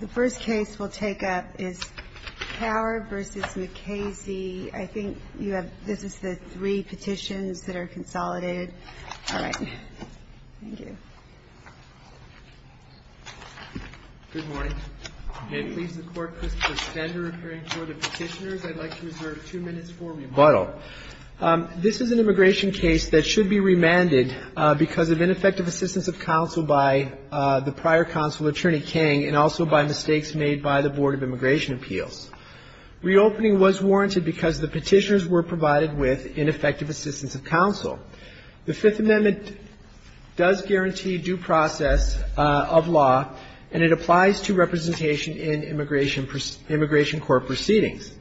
The first case we'll take up is Kaur v. Mukasey. I think you have, this is the three petitions that are consolidated. All right. Thank you. Good morning. It pleases the Court, Christopher Spender, appearing before the petitioners. I'd like to reserve two minutes for rebuttal. This is an immigration case that should be remanded because of ineffective assistance of counsel by the prior counsel, Attorney Kang, and also by mistakes made by the Board of Immigration Appeals. Reopening was warranted because the petitioners were provided with ineffective assistance of counsel. The Fifth Amendment does guarantee due process of law, and it applies to representation in immigration court proceedings.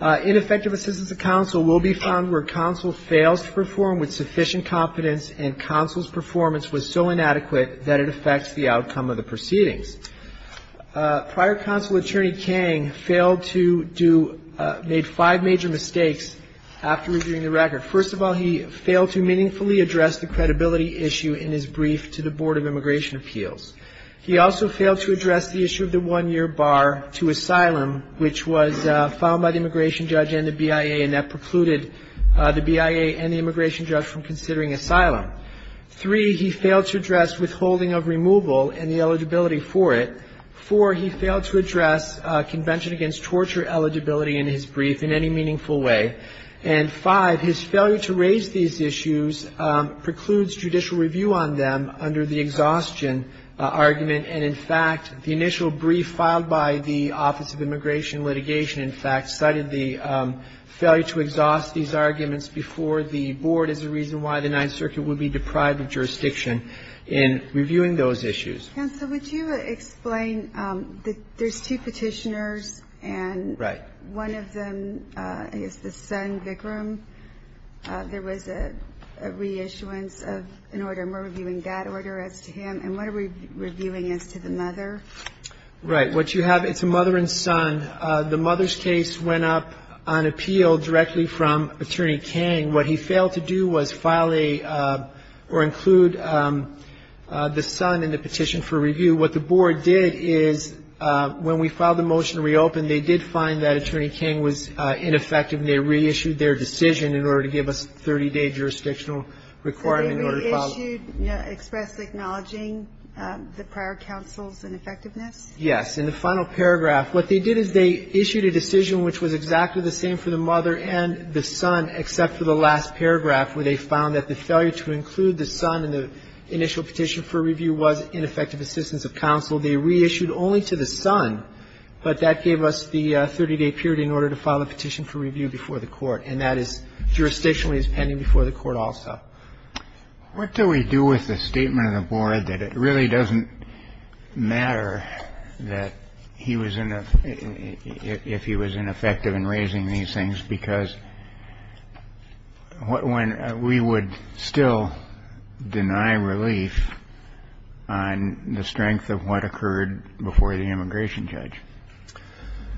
Ineffective assistance of counsel will be found where counsel fails to perform with sufficient competence and counsel's performance was so inadequate that it affects the outcome of the proceedings. Prior counsel, Attorney Kang, failed to do, made five major mistakes after reviewing the record. First of all, he failed to meaningfully address the credibility issue in his brief to the Board of Immigration Appeals. He also failed to address the issue of the one-year bar to asylum, which was filed by the immigration judge and the BIA, and that precluded the BIA and the immigration judge from considering asylum. Three, he failed to address withholding of removal and the eligibility for it. Four, he failed to address Convention Against Torture eligibility in his brief in any exhaustion argument. And, in fact, the initial brief filed by the Office of Immigration and Litigation, in fact, cited the failure to exhaust these arguments before the Board as the reason why the Ninth Circuit would be deprived of jurisdiction in reviewing those issues. Kagan, so would you explain that there's two petitioners and one of them, I guess, the son, Vikram, there was a reissuance of an order and we're reviewing that order as to him, and what are we reviewing as to the mother? Right. What you have, it's a mother and son. The mother's case went up on appeal directly from Attorney Kang. What he failed to do was file a or include the son in the petition for review. What the Board did is when we filed the motion to reopen, they did find that Attorney Kang was ineffective and they reissued their decision in order to give us a 30-day jurisdictional requirement in order to file it. Did they reissue, express acknowledging the prior counsel's ineffectiveness? Yes. In the final paragraph, what they did is they issued a decision which was exactly the same for the mother and the son, except for the last paragraph where they found that the failure to include the son in the initial petition for review was ineffective assistance of counsel. They reissued only to the son, but that gave us the 30-day period in order to file a petition for review before the Court, and that is jurisdictionally pending before the Court also. What do we do with the statement of the Board that it really doesn't matter that he was in a – if he was ineffective in raising these things because what – when we would still deny relief on the strength of what occurred before the immigration judge?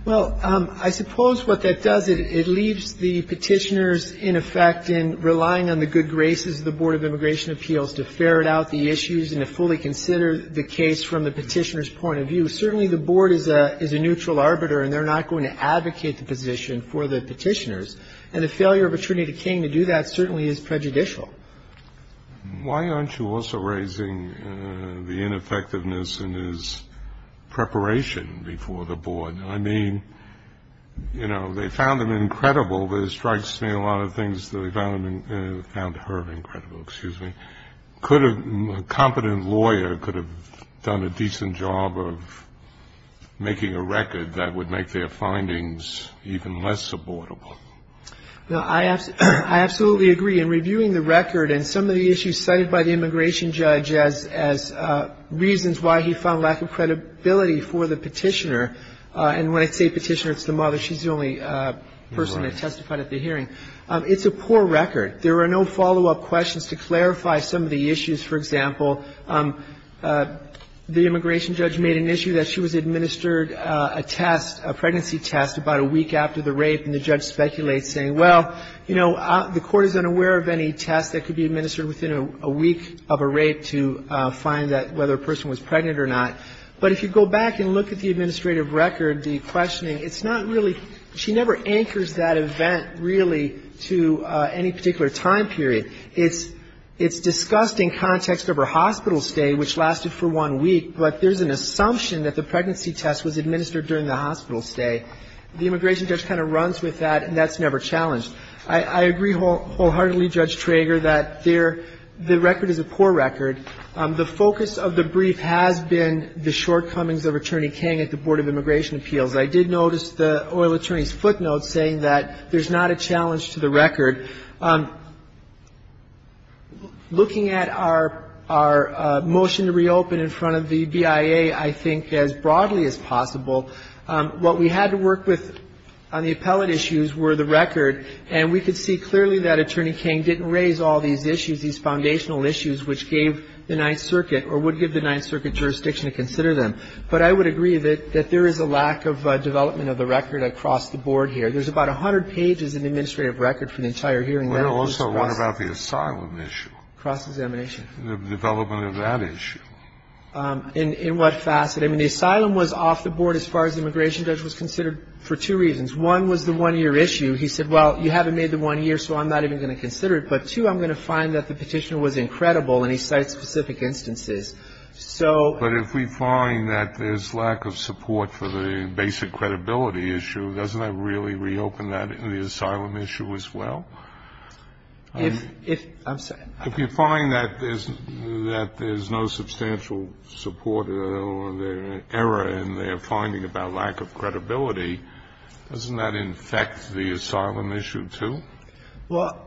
Well, I suppose what that does, it leaves the petitioners, in effect, in relying on the good graces of the Board of Immigration Appeals to ferret out the issues and to fully consider the case from the petitioner's point of view. Certainly, the Board is a neutral arbiter and they're not going to advocate the position for the petitioners, and the failure of Attorney Kang to do that certainly is prejudicial. Why aren't you also raising the ineffectiveness in his preparation before the Board? I mean, you know, they found him incredible. There strikes me a lot of things that they found her incredible. Excuse me. A competent lawyer could have done a decent job of making a record that would make their findings even less supportable. I absolutely agree. In reviewing the record and some of the issues cited by the immigration judge as reasons why he found lack of credibility for the petitioner – and when I say petitioner, it's the mother. She's the only person that testified at the hearing. It's a poor record. There are no follow-up questions to clarify some of the issues. For example, the immigration judge made an issue that she was administered a test, a pregnancy test, about a week after the rape and the judge speculates saying, well, you know, the court is unaware of any test that could be administered within a week of a rape to find that whether a person was pregnant or not. But if you go back and look at the administrative record, the questioning, it's not really – she never anchors that event really to any particular time period. It's discussed in context of her hospital stay, which lasted for one week, but there's an assumption that the pregnancy test was administered during the hospital stay. The immigration judge kind of runs with that, and that's never challenged. I agree wholeheartedly, Judge Trager, that the record is a poor record. The focus of the brief has been the shortcomings of Attorney King at the Board of Immigration Appeals. I did notice the oil attorney's footnotes saying that there's not a challenge to the record. Looking at our motion to reopen in front of the BIA, I think as broadly as possible, what we had to work with on the appellate issues were the record. And we could see clearly that Attorney King didn't raise all these issues, these foundational issues, which gave the Ninth Circuit or would give the Ninth Circuit jurisdiction to consider them. But I would agree that there is a lack of development of the record across the board here. There's about 100 pages in the administrative record for the entire hearing. Kennedy. Well, there's also one about the asylum issue. Cross-examination. The development of that issue. In what facet? I mean, the asylum was off the board as far as the immigration judge was considered for two reasons. One was the one-year issue. He said, well, you haven't made the one year, so I'm not even going to consider it. But, two, I'm going to find that the petitioner was incredible, and he cites specific instances. So ---- But if we find that there's lack of support for the basic credibility issue, doesn't that really reopen that in the asylum issue as well? If you find that there's no substantial support at all there, and they're finding about lack of credibility, doesn't that infect the asylum issue too? Well,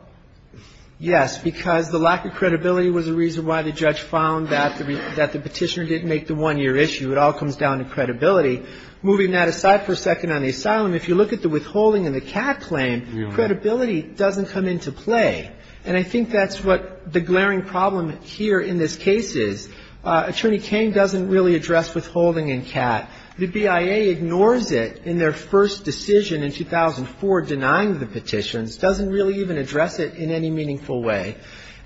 yes, because the lack of credibility was a reason why the judge found that the petitioner didn't make the one-year issue. It all comes down to credibility. Moving that aside for a second on the asylum, if you look at the withholding and the Catt claim, credibility doesn't come into play. And I think that's what the glaring problem here in this case is. Attorney King doesn't really address withholding and Catt. The BIA ignores it in their first decision in 2004 denying the petitions, doesn't really even address it in any meaningful way.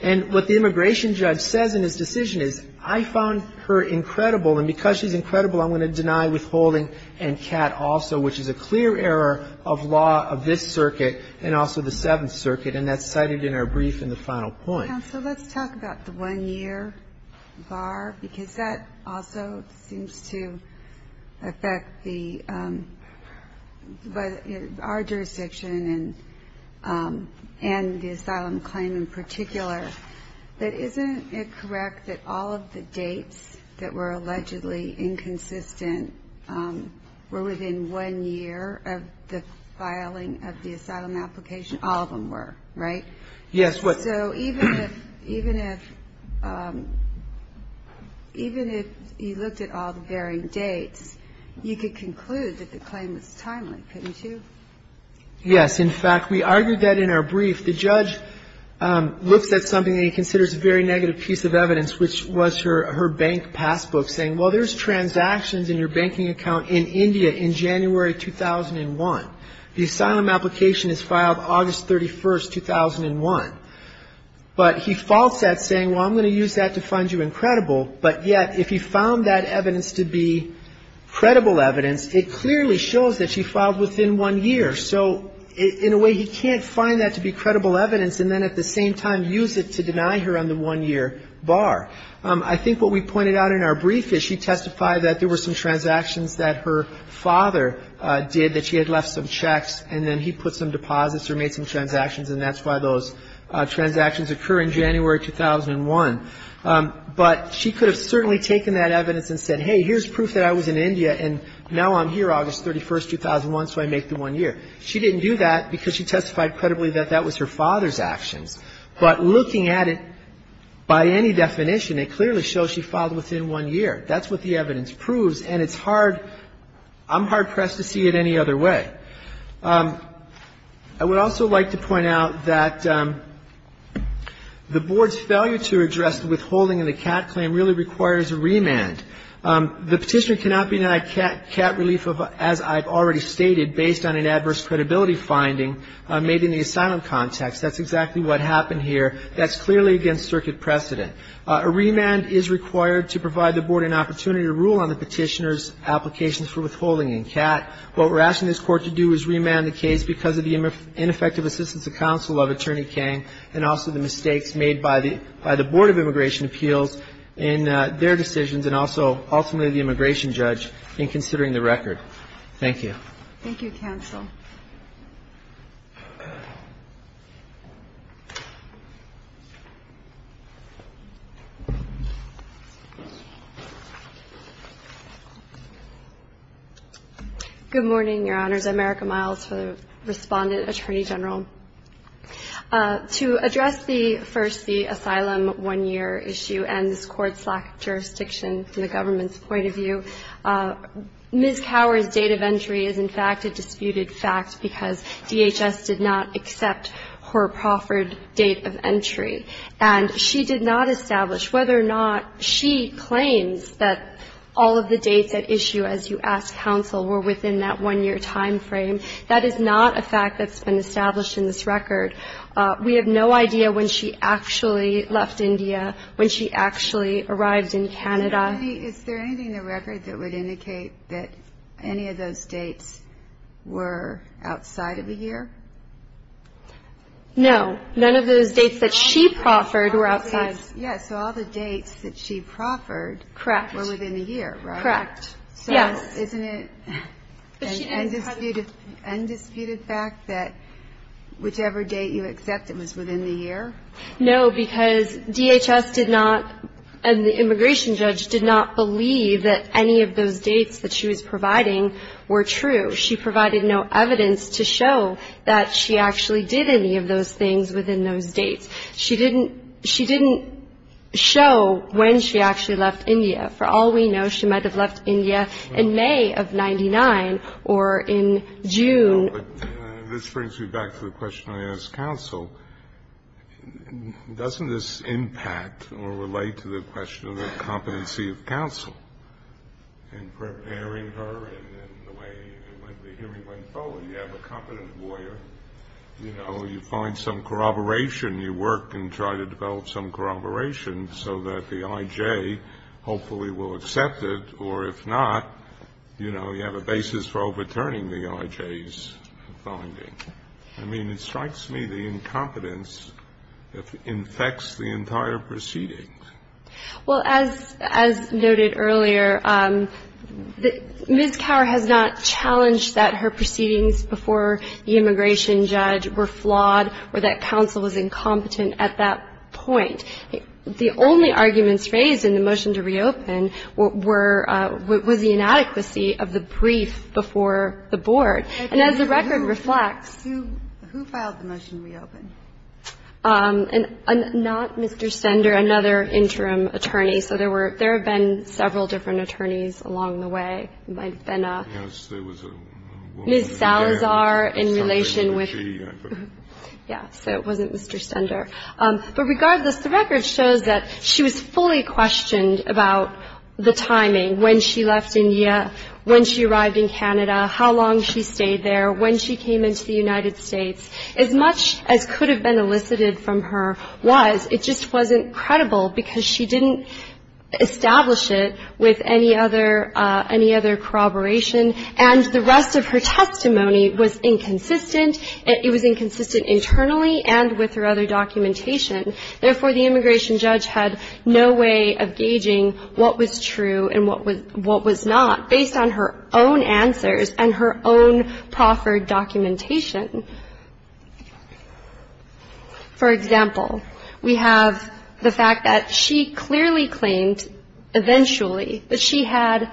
And what the immigration judge says in his decision is, I found her incredible, and because she's incredible, I'm going to deny withholding and Catt also, which is a clear error of law of this circuit and also the Seventh Circuit. And that's cited in our brief in the final point. Counsel, let's talk about the one-year bar because that also seems to affect our jurisdiction and the asylum claim in particular. But isn't it correct that all of the dates that were allegedly inconsistent were within one year of the filing of the asylum application? All of them were, right? Yes. So even if you looked at all the varying dates, you could conclude that the claim was timely, couldn't you? Yes. In fact, we argued that in our brief. The judge looks at something that he considers a very negative piece of evidence, which was her bank passbook saying, well, there's transactions in your banking account in India in January 2001. The asylum application is filed August 31, 2001. But he faults that saying, well, I'm going to use that to find you incredible. But yet, if he found that evidence to be credible evidence, it clearly shows that she filed within one year. So in a way, he can't find that to be credible evidence and then at the same time use it to deny her on the one-year bar. I think what we pointed out in our brief is she testified that there were some transactions that her father did that she had left some checks, and then he put some deposits or made some transactions, and that's why those transactions occur in January 2001. But she could have certainly taken that evidence and said, hey, here's proof that I was in India, and now I'm here August 31, 2001, so I make the one year. She didn't do that because she testified credibly that that was her father's actions. But looking at it, by any definition, it clearly shows she filed within one year. That's what the evidence proves. And it's hard, I'm hard-pressed to see it any other way. I would also like to point out that the Board's failure to address the withholding of the CAT claim really requires a remand. The petitioner cannot be denied CAT relief, as I've already stated, based on an adverse credibility finding made in the asylum context. That's exactly what happened here. That's clearly against circuit precedent. A remand is required to provide the Board an opportunity to rule on the petitioner's applications for withholding in CAT. What we're asking this Court to do is remand the case because of the ineffective assistance of counsel of Attorney Kang and also the mistakes made by the Board of Immigration Appeals in their decisions and also ultimately the immigration judge in considering the record. Thank you. Thank you, counsel. Good morning, Your Honors. I'm Erica Miles for the Respondent, Attorney General. To address the first, the asylum one-year issue and this Court's lack of jurisdiction from the government's point of view, Ms. Cower's date of entry is, in fact, a disputed fact because DHS did not accept her proffered date of entry. And she did not establish whether or not she claims that all of the dates at issue as you ask counsel were within that one-year time frame. That is not a fact that's been established in this record. We have no idea when she actually left India, when she actually arrived in Canada. Is there anything in the record that would indicate that any of those dates were outside of a year? No. None of those dates that she proffered were outside. Yes. So all the dates that she proffered were within the year, right? Correct. Yes. So isn't it an undisputed fact that whichever date you accept it was within the year? No, because DHS did not and the immigration judge did not believe that any of those dates that she was providing were true. She provided no evidence to show that she actually did any of those things within those dates. She didn't show when she actually left India. For all we know, she might have left India in May of 99 or in June. This brings me back to the question I asked counsel. Doesn't this impact or relate to the question of the competency of counsel in preparing her and the way the hearing went forward? You have a competent lawyer. You know, you find some corroboration. You work and try to develop some corroboration so that the I.J. hopefully will accept it, or if not, you know, you have a basis for overturning the I.J. and the I.J.'s finding. I mean, it strikes me the incompetence infects the entire proceedings. Well, as noted earlier, Ms. Kaur has not challenged that her proceedings before the immigration judge were flawed or that counsel was incompetent at that point. The only arguments raised in the motion to reopen were the inadequacy of the brief before the board. And as the record reflects — Who filed the motion to reopen? Not Mr. Stender, another interim attorney. So there were — there have been several different attorneys along the way. There might have been a — Yes. There was a woman — Ms. Salazar in relation with — Yeah. So it wasn't Mr. Stender. But regardless, the record shows that she was fully questioned about the timing, when she left India, when she arrived in Canada, how long she stayed there, when she came into the United States. As much as could have been elicited from her was, it just wasn't credible because she didn't establish it with any other — any other corroboration. And the rest of her testimony was inconsistent. It was inconsistent internally and with her other documentation. Therefore, the immigration judge had no way of gauging what was true and what was not, based on her own answers and her own proffered documentation. For example, we have the fact that she clearly claimed eventually that she had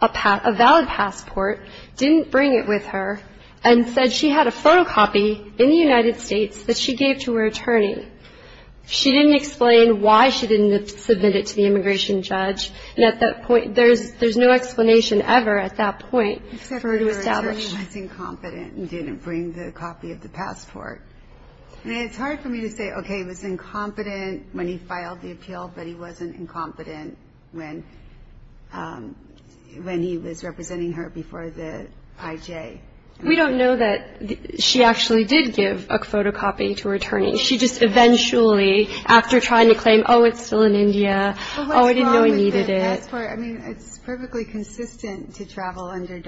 a valid passport, didn't bring it with her, and said she had a photocopy in the United States that she gave to her attorney. She didn't explain why she didn't submit it to the immigration judge. And at that point, there's no explanation ever at that point for her to establish. Except her attorney was incompetent and didn't bring the copy of the passport. I mean, it's hard for me to say, okay, he was incompetent when he filed the appeal, but he wasn't incompetent when he was representing her before the IJ. We don't know that she actually did give a photocopy to her attorney. She just eventually, after trying to claim, oh, it's still in India, oh, I didn't know he needed it. But what's wrong with the passport? I mean, it's perfectly consistent to travel under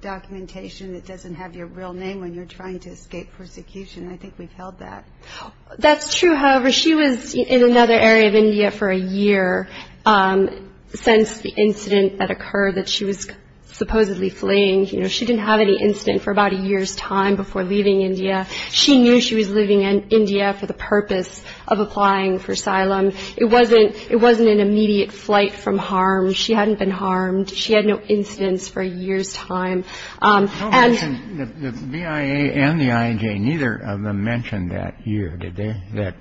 documentation that doesn't have your real name when you're trying to escape persecution. I think we've held that. That's true. However, she was in another area of India for a year since the incident that occurred, that she was supposedly fleeing. You know, she didn't have any incident for about a year's time before leaving India. She knew she was leaving India for the purpose of applying for asylum. It wasn't an immediate flight from harm. She hadn't been harmed. She had no incidents for a year's time. And the BIA and the IJ, neither of them mentioned that year, did they? That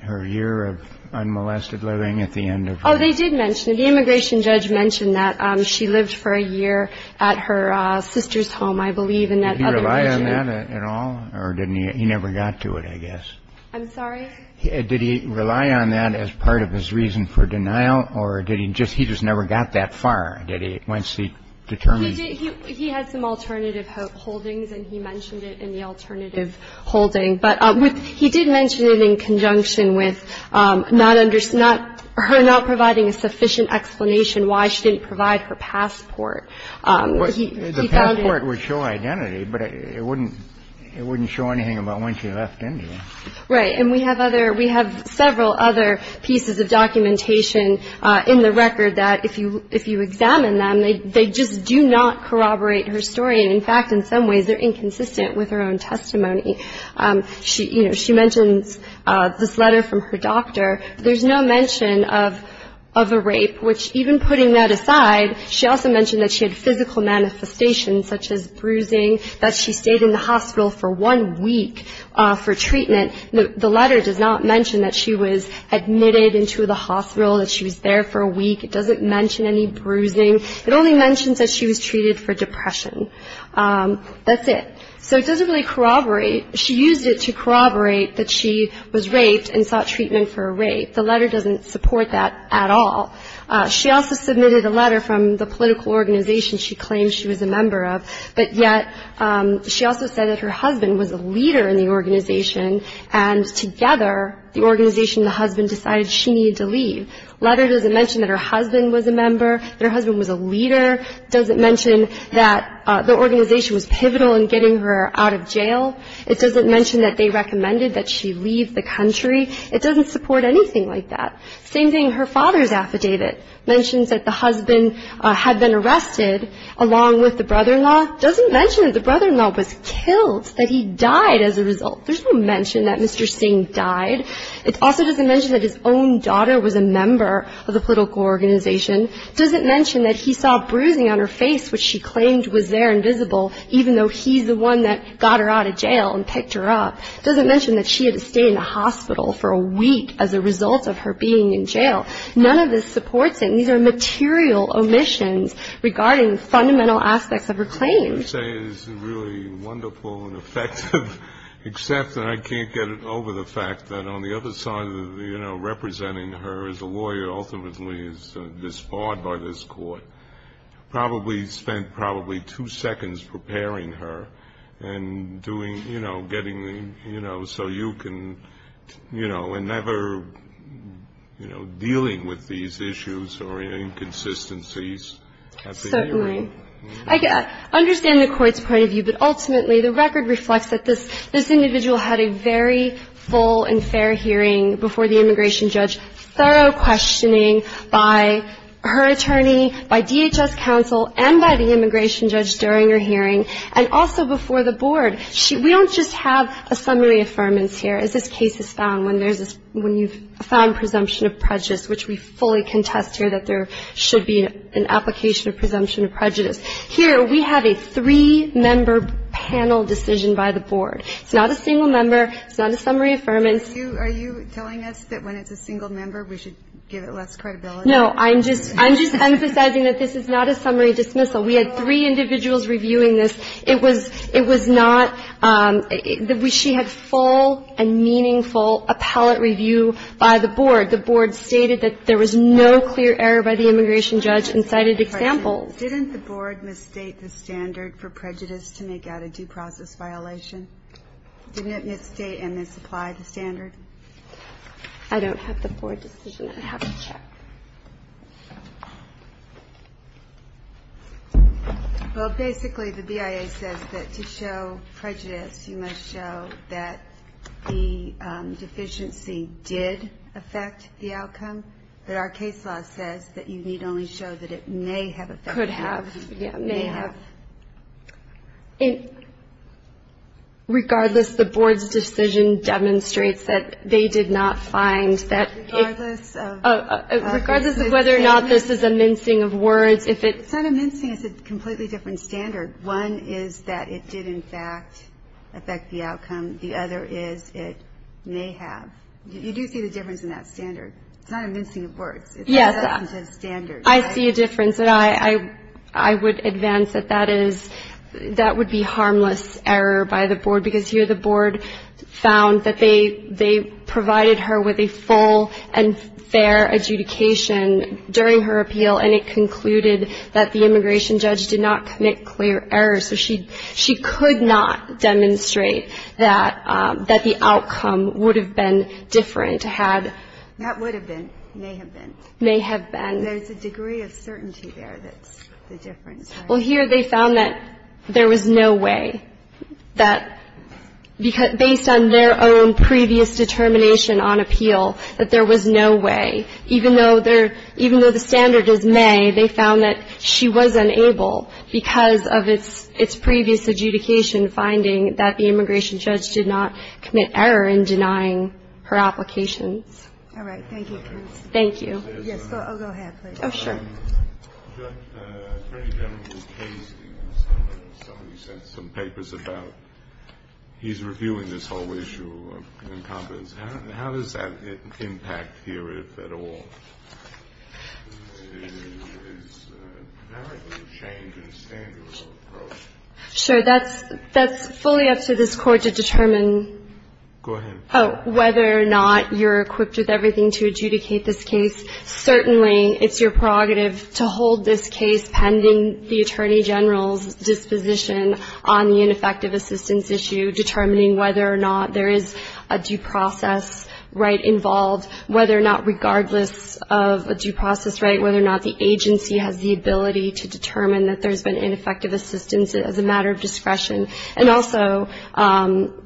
her year of unmolested living at the end of her. Oh, they did mention it. The immigration judge mentioned that she lived for a year at her sister's home, I believe. Did he rely on that at all? Or didn't he? He never got to it, I guess. I'm sorry? Did he rely on that as part of his reason for denial? Or did he just, he just never got that far? Did he, once he determined. He had some alternative holdings, and he mentioned it in the alternative holding. But he did mention it in conjunction with her not providing a sufficient explanation why she didn't provide her passport. The passport would show identity, but it wouldn't show anything about when she left India. Right. And we have other, we have several other pieces of documentation in the record that if you examine them, they just do not corroborate her story. In fact, in some ways, they're inconsistent with her own testimony. She, you know, she mentions this letter from her doctor. There's no mention of a rape, which even putting that aside, she also mentioned that she had physical manifestations such as bruising, that she stayed in the hospital for one week for treatment. The letter does not mention that she was admitted into the hospital, that she was there for a week. It doesn't mention any bruising. It only mentions that she was treated for depression. That's it. So it doesn't really corroborate. She used it to corroborate that she was raped and sought treatment for a rape. The letter doesn't support that at all. She also submitted a letter from the political organization she claimed she was a member of, but yet she also said that her husband was a leader in the organization, and together the organization and the husband decided she needed to leave. The letter doesn't mention that her husband was a member, that her husband was a leader. It doesn't mention that the organization was pivotal in getting her out of jail. It doesn't mention that they recommended that she leave the country. It doesn't support anything like that. Same thing, her father's affidavit mentions that the husband had been arrested along with the brother-in-law. It doesn't mention that the brother-in-law was killed, that he died as a result. There's no mention that Mr. Singh died. It also doesn't mention that his own daughter was a member of the political organization. It doesn't mention that he saw bruising on her face, which she claimed was there and visible, even though he's the one that got her out of jail and picked her up. It doesn't mention that she had to stay in the hospital for a week as a result of her being in jail. None of this supports anything. These are material omissions regarding the fundamental aspects of her claims. I would say it's really wonderful and effective, except that I can't get it over the fact that on the other side of, you know, representing her as a lawyer ultimately is disbarred by this court, probably spent probably two seconds preparing her and doing, you know, getting, you know, so you can, you know, and never, you know, dealing with these issues or inconsistencies. Certainly. I understand the Court's point of view, but ultimately the record reflects that this individual had a very full and fair hearing before the immigration judge, thorough questioning by her attorney, by DHS counsel, and by the immigration judge during her hearing, and also before the board. We don't just have a summary affirmance here, as this case is found, when you've found presumption of prejudice, which we fully contest here that there should be an application of presumption of prejudice. Here we have a three-member panel decision by the board. It's not a single member. It's not a summary affirmance. Are you telling us that when it's a single member we should give it less credibility? No. I'm just emphasizing that this is not a summary dismissal. We had three individuals reviewing this. It was not the way she had full and meaningful appellate review by the board. The board stated that there was no clear error by the immigration judge and cited examples. Didn't the board misstate the standard for prejudice to make out a due process violation? Didn't it misstate and misapply the standard? I don't have the board decision. I have a check. Well, basically, the BIA says that to show prejudice, you must show that the deficiency did affect the outcome. But our case law says that you need only show that it may have affected the outcome. Could have. May have. Regardless, the board's decision demonstrates that they did not find that regardless of whether or not this is a mincing of words. It's not a mincing. It's a completely different standard. One is that it did, in fact, affect the outcome. The other is it may have. You do see the difference in that standard. It's not a mincing of words. It's a substantive standard. I see a difference, and I would advance that that would be harmless error by the board, because here the board found that they provided her with a full and fair adjudication during her appeal, and it concluded that the immigration judge did not commit clear errors. So she could not demonstrate that the outcome would have been different had. That would have been. May have been. May have been. There's a degree of certainty there that's the difference. Well, here they found that there was no way. That based on their own previous determination on appeal, that there was no way. Even though the standard is may, they found that she was unable, because of its previous adjudication finding that the immigration judge did not commit error in denying her applications. All right. Thank you. Thank you. Yes. Oh, go ahead, please. Oh, sure. I've got a pretty general case. Somebody sent some papers about he's reviewing this whole issue of incompetence. How does that impact here at all? Is there a change in standards or approach? Sure. That's fully up to this Court to determine. Go ahead. Oh, whether or not you're equipped with everything to adjudicate this case. Certainly, it's your prerogative to hold this case pending the Attorney General's disposition on the ineffective assistance issue, determining whether or not there is a due process right involved, whether or not regardless of a due process right, whether or not the agency has the ability to determine that there's been ineffective assistance as a matter of discretion. And also,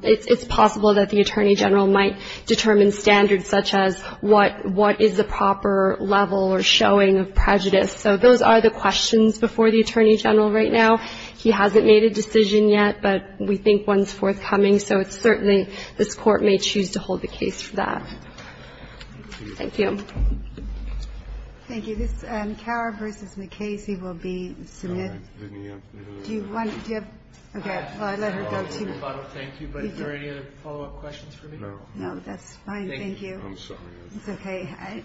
it's possible that the Attorney General might determine standards such as what is the proper level or showing of prejudice. So those are the questions before the Attorney General right now. He hasn't made a decision yet, but we think one's forthcoming. So it's certainly this Court may choose to hold the case for that. Thank you. Thank you. This is McHara v. McKay. Casey will be submitted. Do you want to? Okay, I'll let her go to you. I don't thank you, but are there any other follow-up questions for me? No. No, that's fine. Thank you. I'm sorry. It's okay.